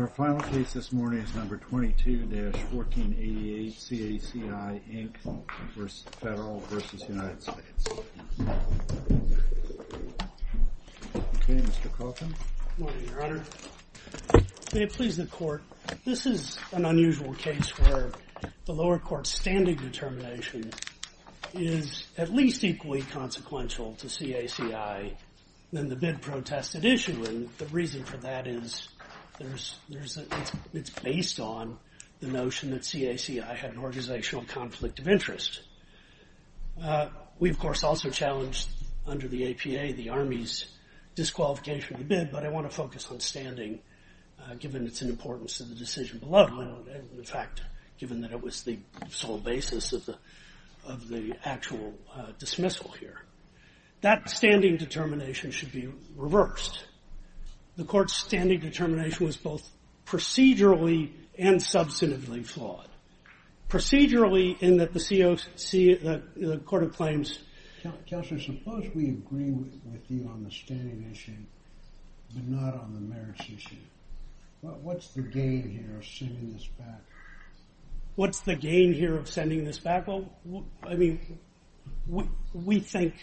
May it please the Court, this is an unusual case where the lower court's standing determination is at least equally consequential to CACI than the bid protested issue, and the reason for that is it's based on the notion that CACI had an organizational conflict of interest. We of course also challenged under the APA the Army's disqualification of the bid, but I want to focus on standing given its importance to the decision below, and in fact given that it was the sole basis of the actual dismissal here. That standing determination should be reversed. The court's standing determination was both procedurally and substantively flawed. Procedurally in that the COC, the Court of Claims... Counselor, suppose we agree with you on the standing issue, but not on the merits issue. What's the gain here of sending this back? What's the gain here of sending this back? Well, I mean, we think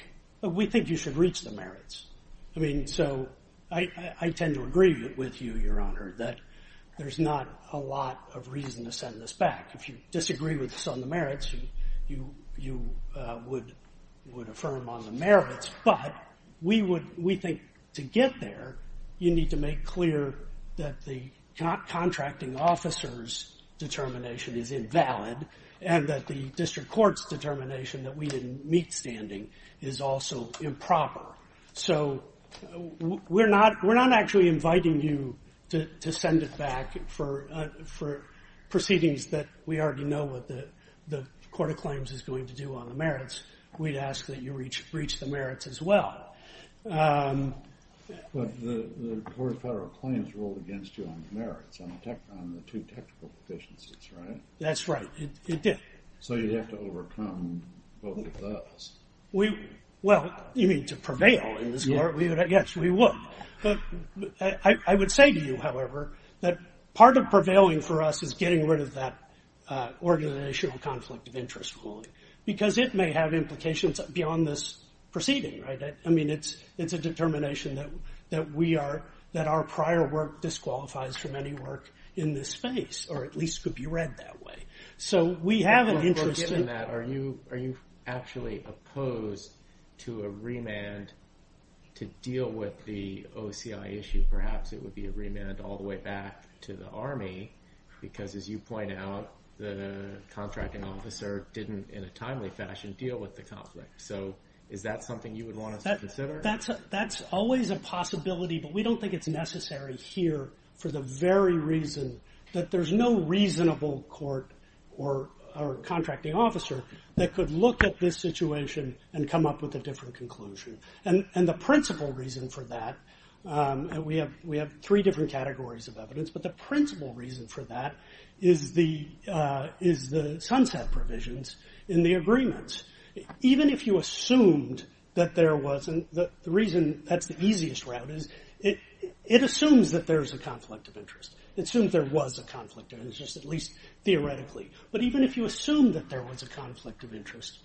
you should reach the merits. I mean, so I tend to agree with you, Your Honor, that there's not a lot of reason to send this back. If you disagree with us on the merits, you would affirm on the merits, but we think to get there, you need to make clear that the contracting officer's determination is invalid and that the district court's determination that we didn't meet standing is also improper. So we're not actually inviting you to send it back for proceedings that we already know what the Court of Claims is going to do on the merits. We'd ask that you reach the merits as well. But the Court of Federal Claims ruled against you on the merits, on the two technical deficiencies, right? That's right. It did. So you'd have to overcome both of those. Well, you mean to prevail in this court? Yes, we would. I would say to you, however, that part of prevailing for us is getting rid of that organizational conflict of interest ruling, because it may have implications beyond this proceeding, right? I mean, it's a determination that our prior work disqualifies from any work in this space, or at least could be read that way. So we have an interest in that. Are you actually opposed to a remand to deal with the OCI issue? Perhaps it would be a remand all the way back to the Army, because as you point out, the contracting officer didn't, in a timely fashion, deal with the conflict. So is that something you would want us to consider? That's always a possibility, but we don't think it's necessary here for the very reason that there's no reasonable court or contracting officer that could look at this situation and come up with a different conclusion. And the principal reason for that, and we have three different categories of evidence, but the principal reason for that is the sunset provisions in the agreements. Even if you assumed that there wasn't, the reason that's the easiest route is it assumes that there's a conflict of interest. It assumes there was a conflict of interest, at least theoretically. But even if you assume that there was a conflict of interest,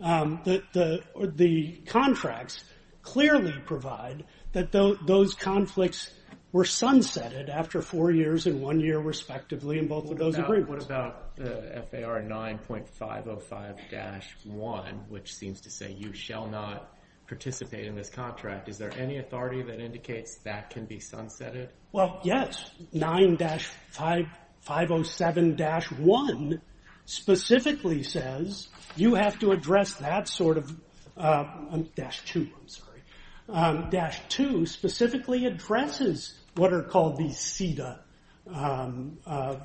the contracts clearly provide that those conflicts were sunsetted after four years and one year respectively in both of those agreements. What about FAR 9.505-1, which seems to say you shall not participate in this contract? Is there any authority that indicates that can be sunsetted? Well, yes. 9.507-1 specifically says you have to address that sort of... I'm sorry, 9.507-2 specifically addresses what are called the CEDA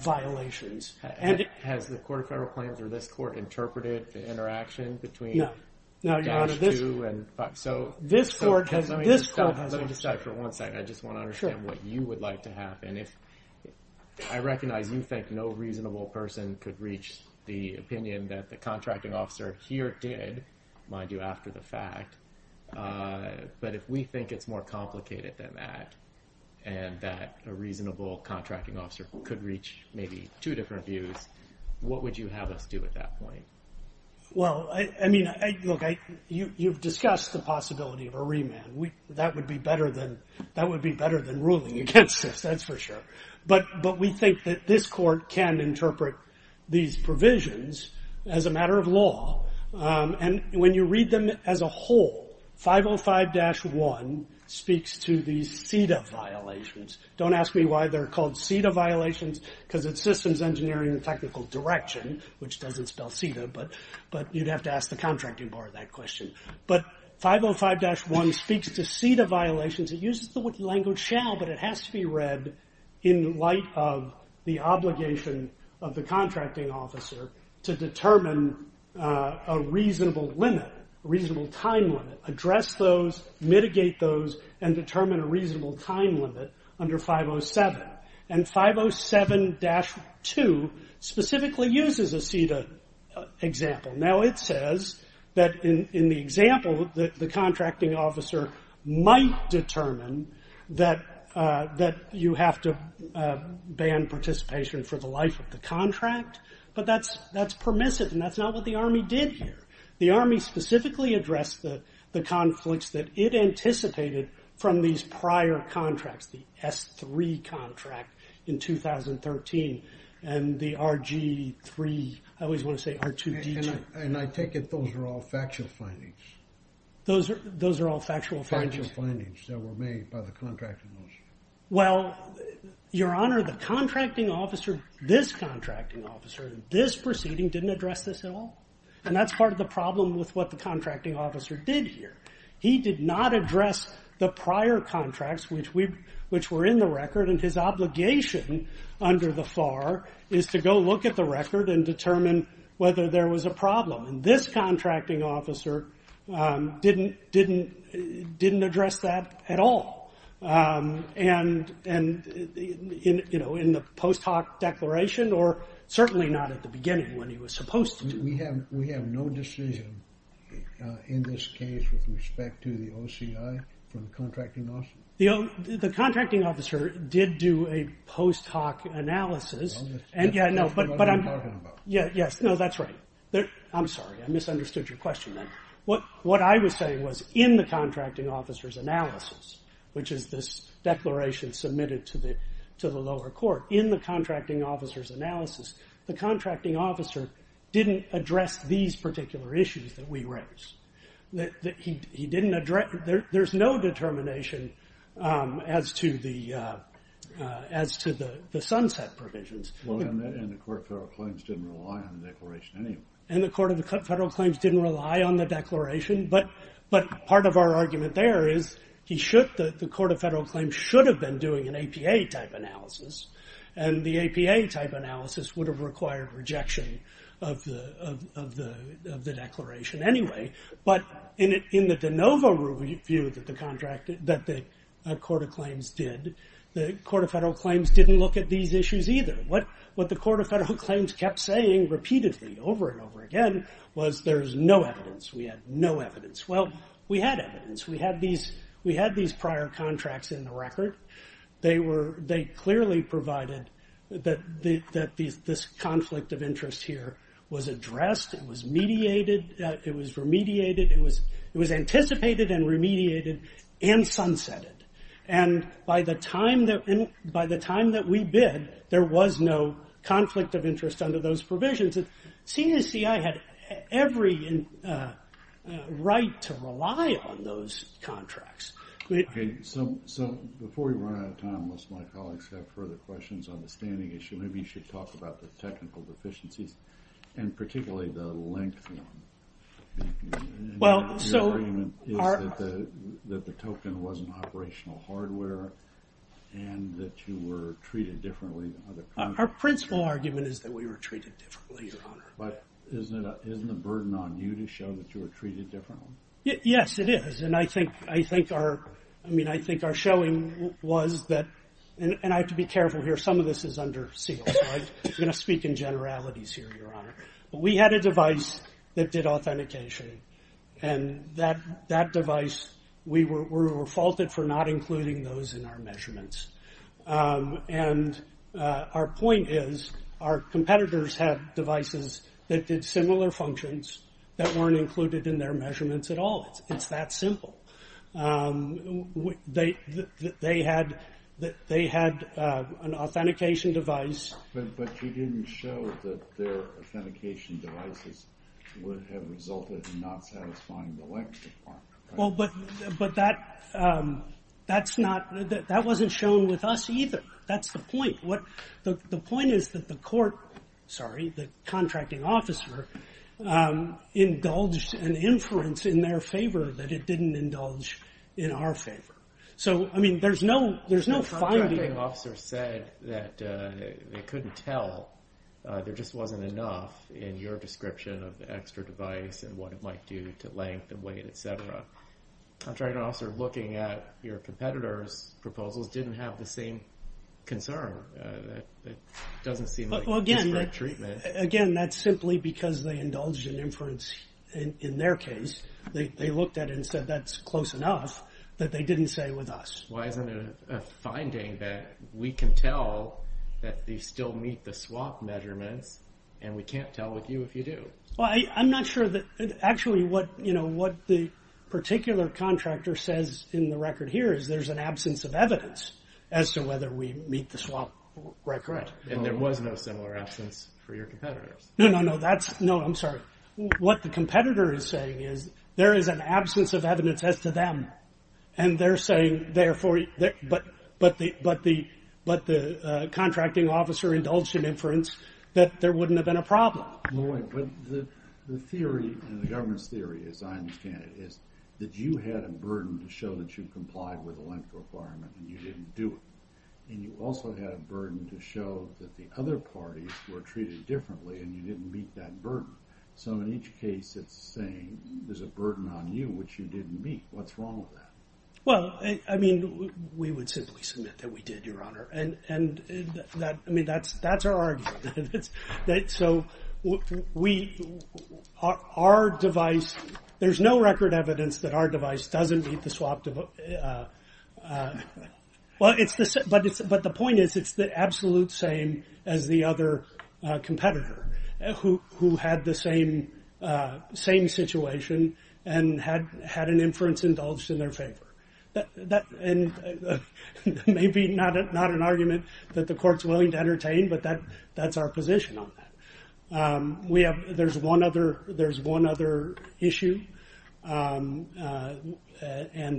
violations. Has the court of federal claims or this court interpreted the interaction between 9.507-2 and... Let me just stop for one second. I just want to understand what you would like to have. I recognize you think no reasonable person could reach the opinion that the contracting officer here did, mind you, after the fact. But if we think it's more complicated than that, and that a reasonable contracting officer could reach maybe two different views, what would you have us do at that point? Well, I mean, look, you've discussed the possibility of a remand. That would be better than ruling against us, that's for sure. But we think that this court can interpret these provisions as a matter of law. And when you read them as a whole, 5.05-1 speaks to these CEDA violations. Don't ask me why they're called CEDA violations, because it's Systems Engineering and Technical Direction, which doesn't spell CEDA, but you'd have to ask the contracting bar that question. But 5.05-1 speaks to CEDA violations. It uses the language shall, but it has to be read in light of the obligation of the contracting officer to determine a reasonable limit, a reasonable time limit. Address those, mitigate those, and determine a reasonable time limit under 5.07. And 5.07-2 specifically uses a CEDA example. Now it says that in the example, the contracting officer might determine that you have to ban participation for the life of the contract, but that's permissive, and that's not what the Army did here. The Army specifically addressed the conflicts that it anticipated from these prior contracts, the S3 contract in 2013, and the RG3, I always want to say R2D2. And I take it those are all factual findings. Those are all factual findings. Factual findings that were made by the contracting officer. Well, Your Honor, the contracting officer, this contracting officer, in this proceeding, didn't address this at all. And that's part of the problem with what the contracting officer did here. He did not address the prior contracts which were in the record, and his obligation under the FAR is to go look at the record and determine whether there was a problem. And this contracting officer didn't address that at all. And, you know, in the post hoc declaration, or certainly not at the beginning when he was supposed to. We have no decision in this case with respect to the OCI from the contracting officer? The contracting officer did do a post hoc analysis. That's what I'm talking about. Yes, no, that's right. I'm sorry, I misunderstood your question there. What I was saying was in the contracting officer's analysis, in the contracting officer's analysis, the contracting officer didn't address these particular issues that we raised. He didn't address, there's no determination as to the sunset provisions. And the Court of Federal Claims didn't rely on the declaration anyway. And the Court of Federal Claims didn't rely on the declaration, but part of our argument there is the Court of Federal Claims should have been doing an APA type analysis, and the APA type analysis would have required rejection of the declaration anyway. But in the de novo review that the Court of Claims did, the Court of Federal Claims didn't look at these issues either. What the Court of Federal Claims kept saying repeatedly, over and over again, was there's no evidence. We had no evidence. Well, we had evidence. We had these prior contracts in the record. They clearly provided that this conflict of interest here was addressed, it was mediated, it was remediated, it was anticipated and remediated, and sunsetted. And by the time that we bid, there was no conflict of interest under those provisions. And CNSCI had every right to rely on those contracts. So before we run out of time, unless my colleagues have further questions on the standing issue, maybe you should talk about the technical deficiencies, and particularly the length of them. Well, so... Your argument is that the token wasn't operational hardware, and that you were treated differently... Our principal argument is that we were treated differently, Your Honor. But isn't the burden on you to show that you were treated differently? Yes, it is. And I think our... I mean, I think our showing was that... And I have to be careful here. Some of this is under seal. I'm going to speak in generalities here, Your Honor. But we had a device that did authentication. And that device... We were faulted for not including those in our measurements. And our point is, our competitors had devices that did similar functions that weren't included in their measurements at all. It's that simple. They had an authentication device... But you didn't show that their authentication devices would have resulted in not satisfying the length requirement. Well, but that... That's not... That wasn't shown with us either. That's the point. The point is that the court... Sorry, the contracting officer... Indulged an inference in their favor that it didn't indulge in our favor. So, I mean, there's no finding... The contracting officer said that they couldn't tell. There just wasn't enough in your description of the extra device and what it might do to length and weight, etc. The contracting officer looking at your competitors' proposals didn't have the same concern. It doesn't seem like disparate treatment. Again, that's simply because they indulged an inference in their case. They looked at it and said that's close enough that they didn't say with us. Why isn't there a finding that we can tell that they still meet the swap measurements and we can't tell with you if you do? Well, I'm not sure that... Actually, what the particular contractor says in the record here is there's an absence of evidence as to whether we meet the swap record. And there was no similar absence for your competitors. No, no, no, that's... No, I'm sorry. What the competitor is saying is there is an absence of evidence as to them. And they're saying, therefore... But the contracting officer indulged in inference that there wouldn't have been a problem. But the theory, the government's theory, as I understand it, is that you had a burden to show that you complied with the length requirement and you didn't do it. And you also had a burden to show that the other parties were treated differently and you didn't meet that burden. So in each case, it's saying there's a burden on you which you didn't meet. What's wrong with that? Well, I mean, we would simply submit that we did, Your Honor. And I mean, that's our argument. So we... Our device... There's no record evidence that our device doesn't meet the swap... Well, but the point is, it's the absolute same as the other competitor who had the same situation and had an inference indulged in their favor. And maybe not an argument that the court's willing to entertain, but that's our position on that. We have... There's one other issue. And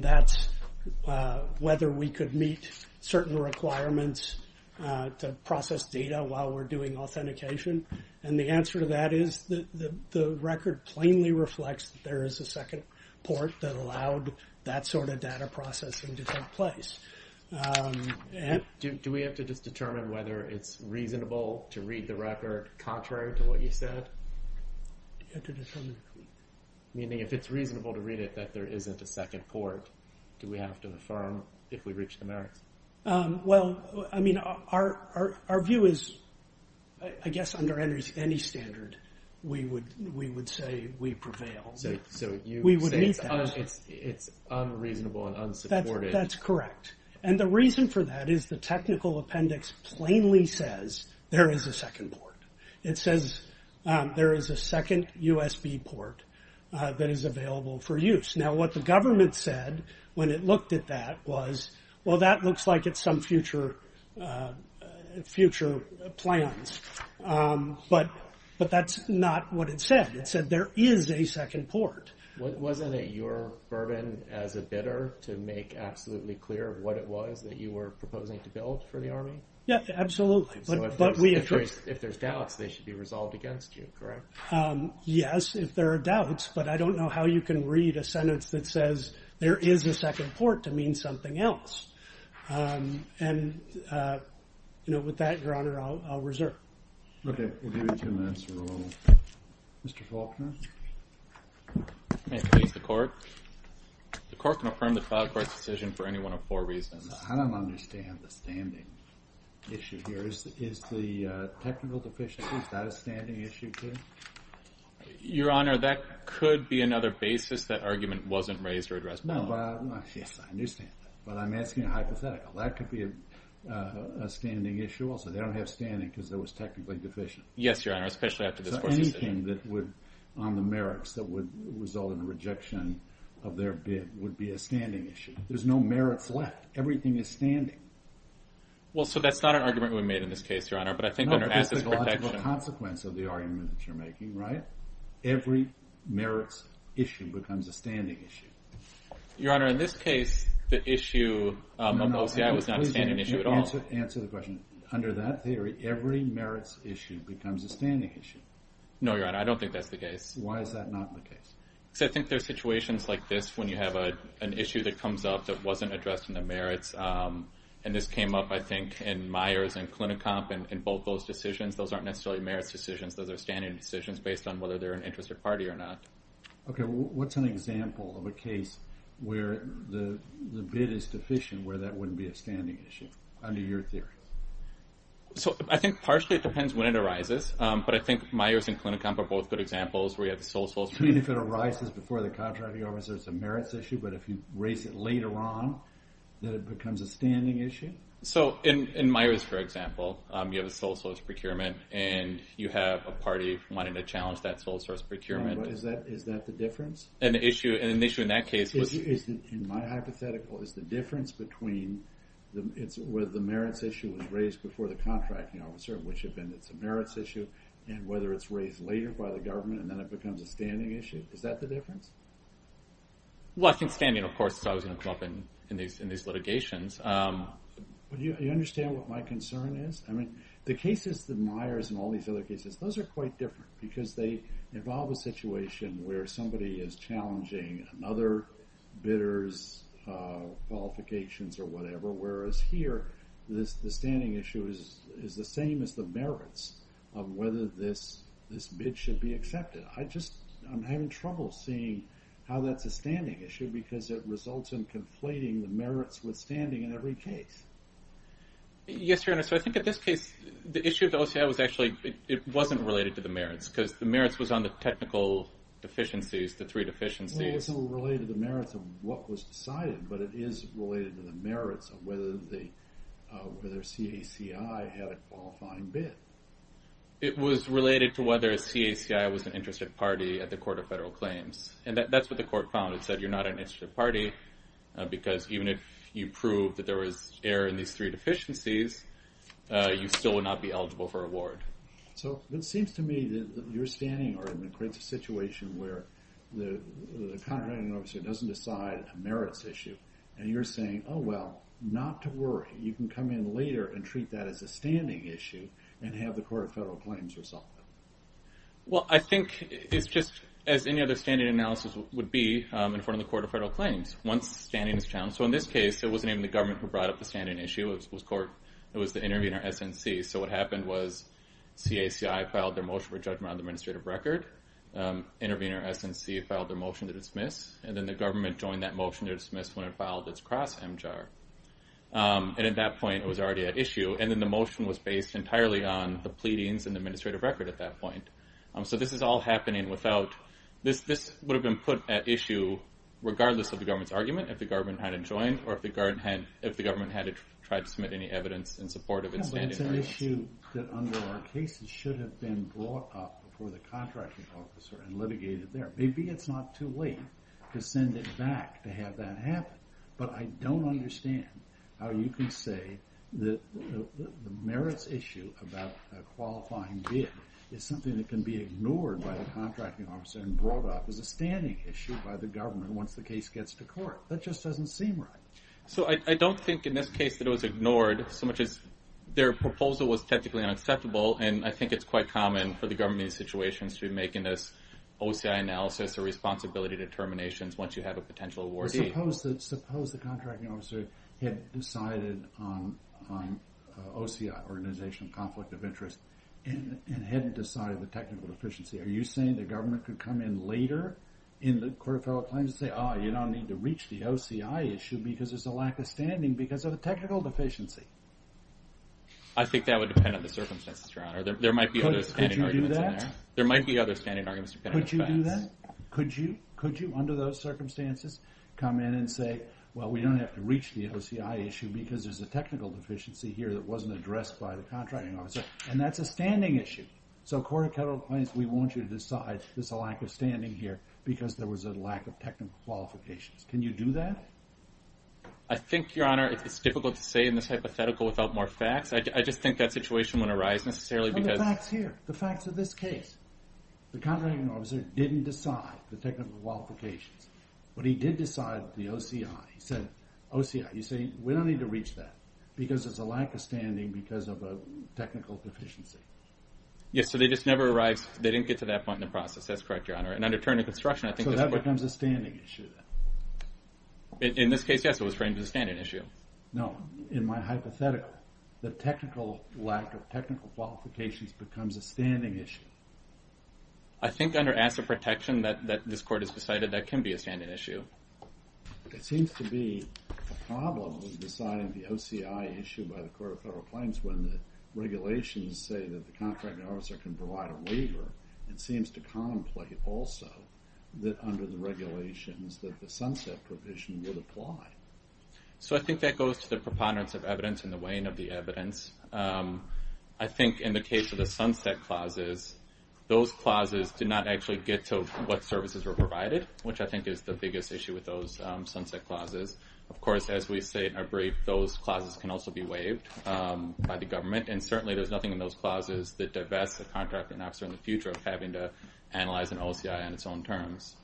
that's whether we could meet certain requirements to process data while we're doing authentication. And the answer to that is the record plainly reflects that there is a second port that allowed that sort of data processing to take place. Do we have to just determine whether it's reasonable to read the record contrary to what you said? Meaning if it's reasonable to read it that there isn't a second port, do we have to affirm if we reach the merits? Well, I mean, our view is, I guess under any standard, we would say we prevail. We would meet that. It's unreasonable and unsupported. That's correct. And the reason for that is the technical appendix plainly says there is a second port. It says there is a second USB port that is available for use. Now, what the government said when it looked at that was, well, that looks like it's some future plans. But that's not what it said. It said there is a second port. Wasn't it your burden as a bidder to make absolutely clear what it was that you were proposing to build for the Army? Yeah, absolutely. If there's doubts, they should be resolved against you, correct? Yes, if there are doubts. But I don't know how you can read a sentence that says there is a second port to mean something else. And with that, Your Honor, I'll reserve. Okay, we'll give you two minutes to roll. Mr. Faulkner? May it please the Court? The Court can affirm the cloud court's decision for any one of four reasons. I don't understand the standing issue here. Is the technical deficiency, is that a standing issue, too? Your Honor, that could be another basis that argument wasn't raised or addressed. Yes, I understand that. But I'm asking a hypothetical. That could be a standing issue also. They don't have standing because it was technically deficient. Yes, Your Honor, especially after this Court's decision. So anything on the merits that would result in a rejection of their bid would be a standing issue. There's no merits left. Everything is standing. Well, so that's not an argument we made in this case, Your Honor, but I think under ACSA's protection... No, but there's the logical consequence of the argument that you're making, right? Every merits issue becomes a standing issue. Your Honor, in this case, the issue of OCI was not a standing issue at all. Answer the question. Under that theory, every merits issue becomes a standing issue. No, Your Honor, I don't think that's the case. Why is that not the case? Because I think there's situations like this when you have an issue that comes up that wasn't addressed in the merits. And this came up, I think, in Myers and Klinicomp and both those decisions. Those aren't necessarily merits decisions. Those are standing decisions based on whether they're an interest or party or not. Okay, what's an example of a case where the bid is deficient where that wouldn't be a standing issue, under your theory? So I think partially it depends when it arises, but I think Myers and Klinicomp are both good examples where you have the sole sole... You mean if it arises before the contracting officer, it's a merits issue, but if you raise it later on, then it becomes a standing issue? So in Myers, for example, you have a sole source procurement, and you have a party wanting to challenge that sole source procurement. Is that the difference? And the issue in that case was... In my hypothetical, is the difference between whether the merits issue was raised before the contracting officer, which had been it's a merits issue, and whether it's raised later by the government, and then it becomes a standing issue? Is that the difference? Well, I think standing, of course, so I was going to come up in these litigations. Do you understand what my concern is? I mean, the cases in Myers and all these other cases, those are quite different because they involve a situation where somebody is challenging another bidder's qualifications or whatever, whereas here, the standing issue is the same as the merits of whether this bid should be accepted. I'm having trouble seeing how that's a standing issue because it results in conflating the merits with standing in every case. Yes, Your Honor, so I think in this case, the issue of the OCI was actually... It wasn't related to the merits because the merits was on the technical deficiencies, the three deficiencies. Well, it wasn't related to the merits of what was decided, but it is related to the merits of whether CACI had a qualifying bid. It was related to whether CACI was an interested party at the Court of Federal Claims, and that's what the court found. It said you're not an interested party because even if you prove that there was error in these three deficiencies, you still would not be eligible for award. So it seems to me that you're standing or in a critical situation where the contraband officer doesn't decide a merits issue, and you're saying, oh, well, not to worry. You can come in later and treat that as a standing issue and have the Court of Federal Claims resolve it. Well, I think it's just as any other standing analysis would be, in front of the Court of Federal Claims, once standing is challenged. So in this case, it wasn't even the government who brought up the standing issue. It was the intervener, SNC. So what happened was CACI filed their motion for judgment on the administrative record. Intervener, SNC, filed their motion to dismiss, and then the government joined that motion to dismiss when it filed its cross-MJAR. And at that point, it was already at issue, and then the motion was based entirely on the pleadings in the administrative record at that point. So this is all happening without... This would have been put at issue regardless of the government's argument if the government hadn't joined or if the government had tried to submit any evidence in support of its standing. Yeah, but it's an issue that under our cases should have been brought up before the contracting officer and litigated there. Maybe it's not too late to send it back to have that happen, but I don't understand how you can say that the merits issue about a qualifying bid is something that can be ignored by the contracting officer and brought up as a standing issue by the government once the case gets to court. That just doesn't seem right. So I don't think in this case that it was ignored so much as their proposal was technically unacceptable, and I think it's quite common for the government in these situations to be making this OCI analysis or responsibility determinations once you have a potential awardee. Suppose the contracting officer the technical deficiency. Are you saying the government could come to court and say, you know, we're going to do this and we're going to do this and we're going to do this and then come in later in the court of federal claims and say, oh, you don't need to reach the OCI issue because there's a lack of standing because of the technical deficiency? I think that would depend on the circumstances, Your Honor. There might be other standing arguments in there. Could you do that? There might be other standing arguments depending on the facts. Could you do that? Could you, under those circumstances, come in and say, well, we don't have to reach the OCI issue because there's a technical deficiency here that wasn't addressed by the contracting officer and that's a standing issue. So court of federal claims, we want you to decide there's a lack of standing here because there was a lack of technical qualifications. Can you do that? I think, Your Honor, it's difficult to say in this hypothetical without more facts. I just think that situation wouldn't arise necessarily because... Well, the fact's here. The fact's in this case. The contracting officer didn't decide the technical qualifications but he did decide the OCI. He said, OCI, you say, we don't need to reach that because there's a lack of standing because of a technical deficiency. Yes, so they just never arrived, they didn't get to that point in the process. That's correct, Your Honor. So that becomes a standing issue then. In this case, yes, it was framed as a standing issue. No, in my hypothetical, the technical lack of technical qualifications becomes a standing issue. I think under asset protection that this court has decided that can be a standing issue. It seems to be a problem when the regulations say that the contracting officer can provide a waiver and it seems to contemplate also that the OCI can provide a waiver and it seems to contemplate also that the OCI can provide a waiver and it seems to contemplate also that under the regulations that the sunset provision would apply. So I think that goes to the preponderance of evidence and the weighing of the evidence. I think in the case of the sunset clauses, those clauses did not actually get to what services were provided, which I think is the biggest issue with those sunset clauses. Of course, as we say in our brief, those clauses can also be waived by the government and certainly there's nothing in those clauses that divests the contracting officer in the future of having to analyze an OCI on its own terms.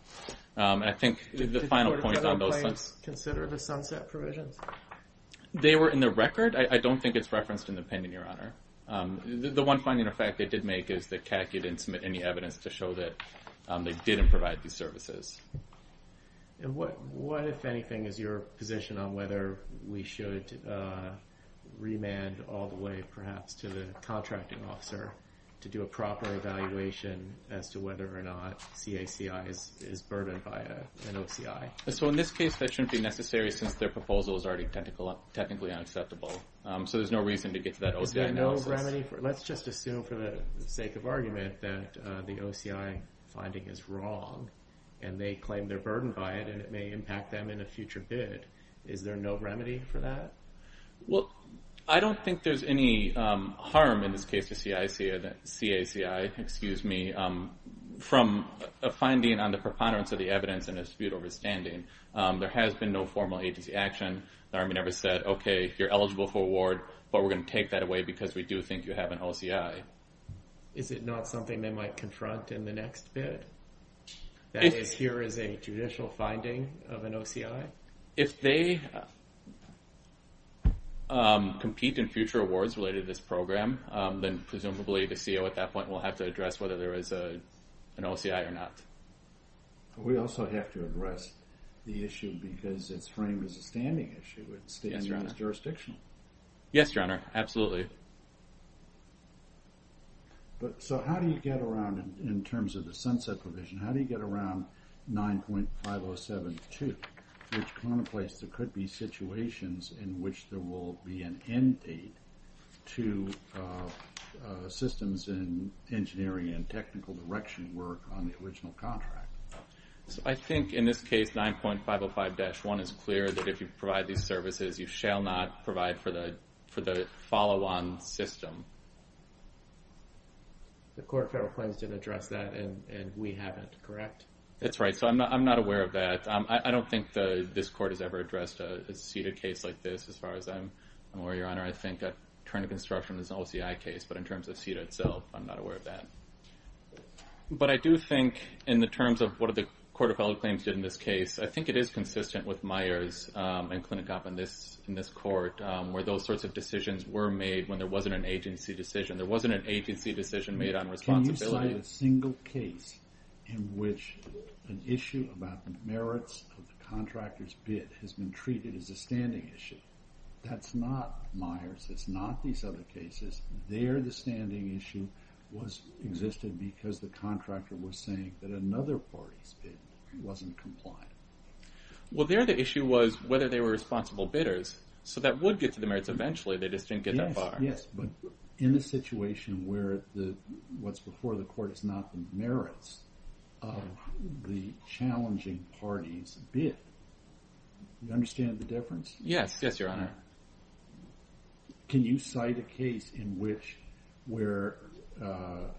the final point on those... Did the order of no claims consider the sunset provisions? They were in the record. I don't think it's referenced in the opinion, Your Honor. The one finding of fact they did make is that CAC didn't submit any evidence to show that they didn't provide these services. And what, if anything, is your position on whether we should remand all the way, perhaps, to the contracting officer to do a proper evaluation as to whether or not CACI is burdened by an OCI? So in this case, that shouldn't be necessary since their proposal is already technically unacceptable. So there's no reason to get to that OCI analysis. Is there no remedy? Let's just assume for the sake of argument that the OCI finding they're burdened by it and it may impact them in a future bid. Is there no remedy for that? Well, I don't think there's a remedy for that. I think I don't think there's any harm in this case to CACI from a finding on the preponderance of the evidence and a dispute over standing. There has been no formal agency action. The Army never said, okay, you're eligible for award, but we're going to take that away because we do think you have an OCI. Is it not something they might confront in the next bid? That is, here is a judicial finding of an OCI? If they compete in future bids, in future awards related to this program, then presumably the CO at that point will have to address whether there is an OCI or not. But we also the issue because it's framed as a standing issue. Yes, Your Honor. It stands as jurisdictional. Yes, Your Honor. Absolutely. So how do you get around, in terms of the sunset provision, how do you get around 9.507.2, which contemplates there could be situations in which there will be an end date to systems in engineering and technical direction work on the original contract? I think in this case, 9.505-1 is clear that if you provide these services, you shall not provide for the follow-on system. The court of federal claims didn't address that and we haven't, correct? That's right. So I'm not aware of that. I don't think this court has ever addressed a seated case like this as far as I'm aware, Your Honor. I think attorney construction is an OCI case, but in terms of CEDA itself, I'm not aware of that. But I do think in the terms of what the court of federal claims did in this case, I think it is consistent with Meyers and Clinicop in this court, where those sorts of decisions were made when there wasn't an agency decision. There wasn't an agency decision made on responsibility. Can you cite a single case in which an issue about the merits of the contractor's bid has been treated as a standing issue? That's not Meyers. That's not these other cases. There the standing issue existed because the contractor was saying that another party's bid wasn't compliant. Well, there the issue was whether they were responsible bidders. So that would get to the merits eventually. They just didn't get that far. Yes, but in a situation where what's before the court is not the merits of the challenging party's bid, do you understand the difference? Yes, yes, Your Honor. Can you cite a case in which where the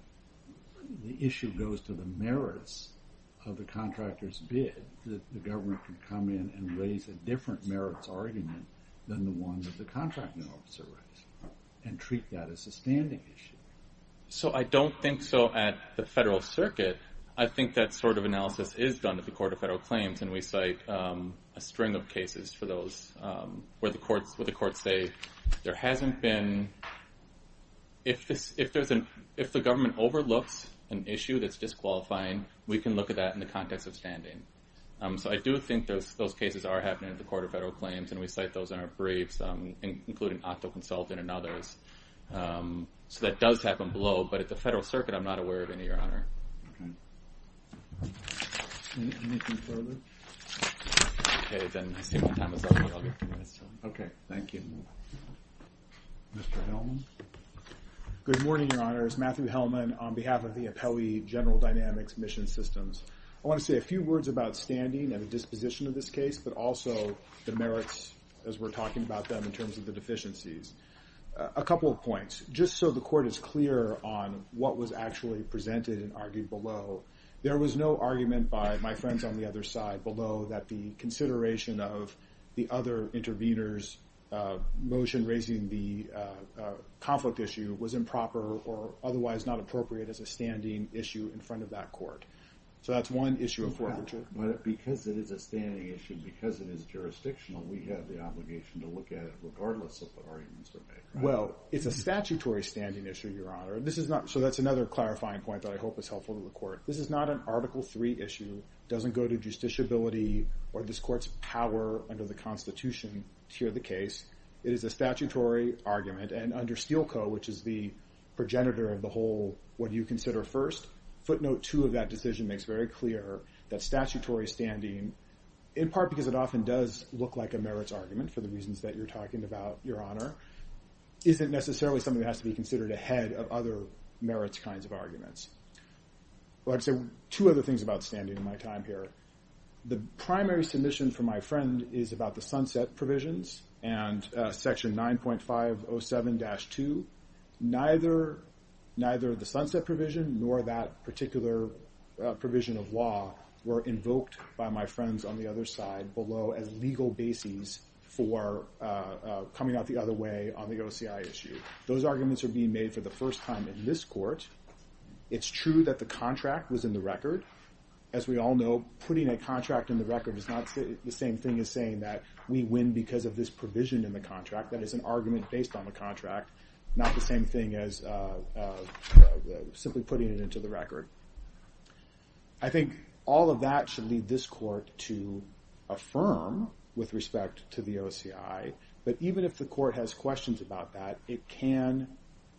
issue goes to the merits of the contractor's bid, the government can come in and raise a different merits argument than the one that the contracting officer writes and treat that as a standing issue? So I don't think so at the federal circuit. I think that sort of analysis is done at the Court of Federal Claims and we cite a string of cases for those where the courts say there hasn't been... If the government overlooks an issue that's disqualifying, we can look at that in the context of standing. So I do think those cases are happening at the Court of Federal Claims and we cite those in our briefs, including Otto Consultant and others. So that does happen below, but at the federal circuit I'm not aware of any, Your Honor. Anything further? Okay, then I'll take my time as well. Okay, thank you. Mr. Hellman? Good morning, Your Honor. It's Matthew Hellman on behalf of the Appellee General Dynamics Mission Systems. I want to say a few words about standing and the disposition of this case, but also the merits as we're talking about them in terms of the deficiencies. A couple of points. Just so the Court is clear on what was actually presented and argued below, there was no argument by my friends on the other side below that the consideration of the other intervener's motion raising the conflict issue was improper or otherwise not appropriate as a standing issue in front of that court. So that's one issue of forfeiture. But because it is a standing issue, because it is jurisdictional, we have the obligation to look at it regardless of the arguments that are made. Well, it's a statutory standing issue, Your Honor. This is not, so that's another clarifying point that I hope is helpful to the Court. This is not an Article 3 issue. It doesn't go to justiciability or this Court's power under the Constitution to hear the case. It is a statutory argument. And under Steele Co., which is the progenitor of the whole what do you consider first, footnote 2 of that decision makes very clear that statutory standing, in part because it often does look like a merits argument for the reasons that you're talking about, Your Honor, isn't necessarily something that has to be considered ahead of other merits kinds of arguments. Well, I'd say two other things about standing in my time here. The primary submission from my friend is about the sunset provisions and Section 9.507-2. Neither the sunset provision nor that particular provision of law were invoked by my friends on the other side below as legal bases for coming out the other way on the OCI issue. Those arguments are being made for the first time in this Court. It's true that the contract was in the record. As we all know, putting a contract in the record is not the same thing as saying that we win because of this provision in the contract. That is an argument based on the contract, not the same thing as simply putting it into the record. I think all of that should lead this Court to affirm with respect to the OCI. But even if the Court has questions about that, it can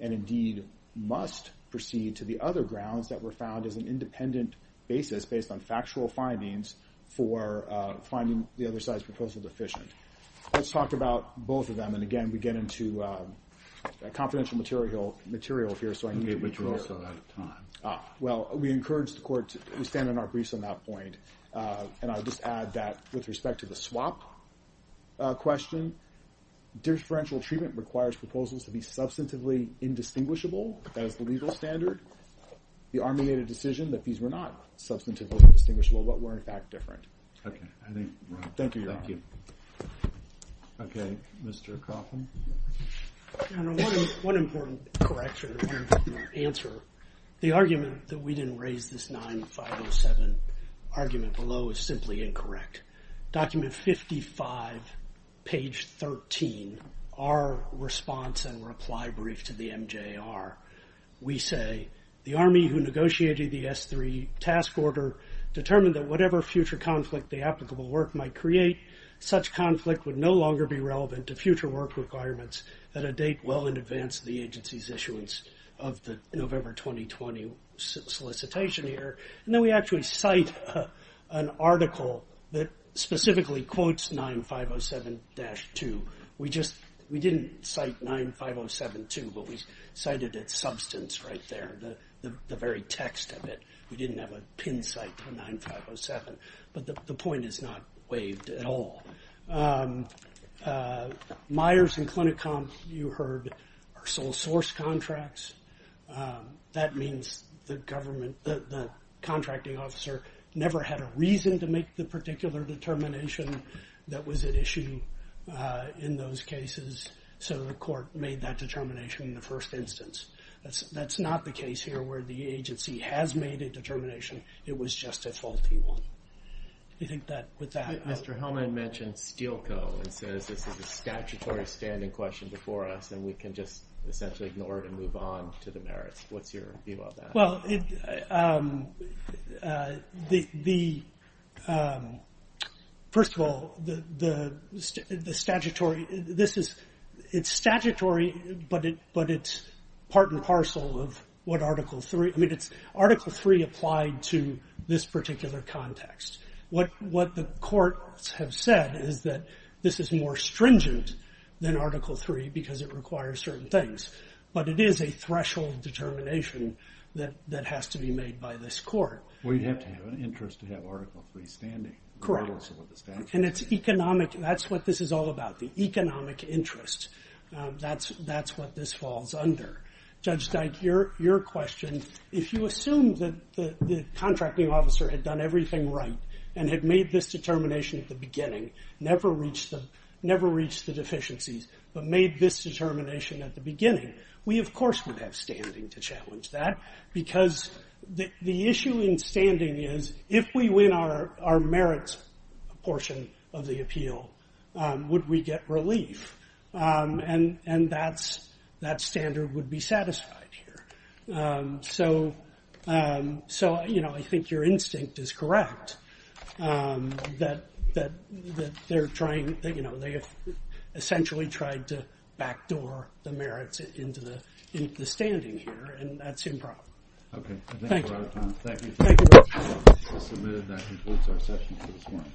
and indeed must proceed to the other grounds that were found as an independent basis based on factual findings for finding the other side's proposal deficient. Let's talk about both of them. And again, we get into confidential material here, so I need to be clear. Okay, but you're also out of time. Well, we encourage the Court to stand on our briefs on that point. And I'll just add that with respect to the swap question, differential treatment requires proposals to be substantively indistinguishable as the legal standard. The Army made a decision that these were not substantively indistinguishable, but were in fact different. Okay, I think we're on. Thank you, Your Honor. Thank you. Okay, Mr. Coffin. Your Honor, one important correction, one important answer. The argument that we didn't raise this 9507 argument below is simply incorrect. Document 55, page 13, our response and reply brief to the MJAR, we say, the Army who negotiated the S3 task order determined that whatever future conflict the applicable work might create, such conflict would no longer be relevant to future work requirements at a date well in advance of the agency's issuance of the November 2020 solicitation here. And then we actually cite an article that specifically quotes 9507-2. We just, we didn't cite 9507-2, but we cited its substance right there, the very text of it. We didn't have a pin cite to 9507. But the point is not waived at all. Myers and Clinicon, you heard, are sole source contracts. That means the government, the contracting officer, never had a reason to make the particular determination that was at issue in those cases. So the court made that determination in the first instance. That's not the case here where the agency has made a determination. It was just a faulty one. You think that with that... Mr. Hellman mentioned Steelco and says this is a statutory standing question before us and we can just essentially ignore it and move on to the merits. What's your view on that? Well, first of all, the statutory, this is, it's statutory, but it's part and parcel of what Article 3, I mean, Article 3 applied to this particular context. What the courts have said is that this is more stringent than Article 3 because it requires certain things. But it is a threshold determination that has to be made by this court. Well, you'd have to have an interest to have Article 3 standing. Correct. And it's economic, that's what this is all about, the economic interest. That's what this falls under. Judge Dyke, your question, if you assume that the contracting officer had done everything right and had made this determination at the beginning, never reached the deficiencies, but made this determination at the beginning, we of course would have standing to challenge that because the issue in standing is if we win our merits portion of the appeal, would we get relief? And that standard would be satisfied here. So, you know, I think your instinct is correct that they're trying, you know, they have essentially tried to backdoor the merits into the standing here, and that's improper. Okay, I think we're out of time. Thank you. Thank you very much. That concludes our session for this morning.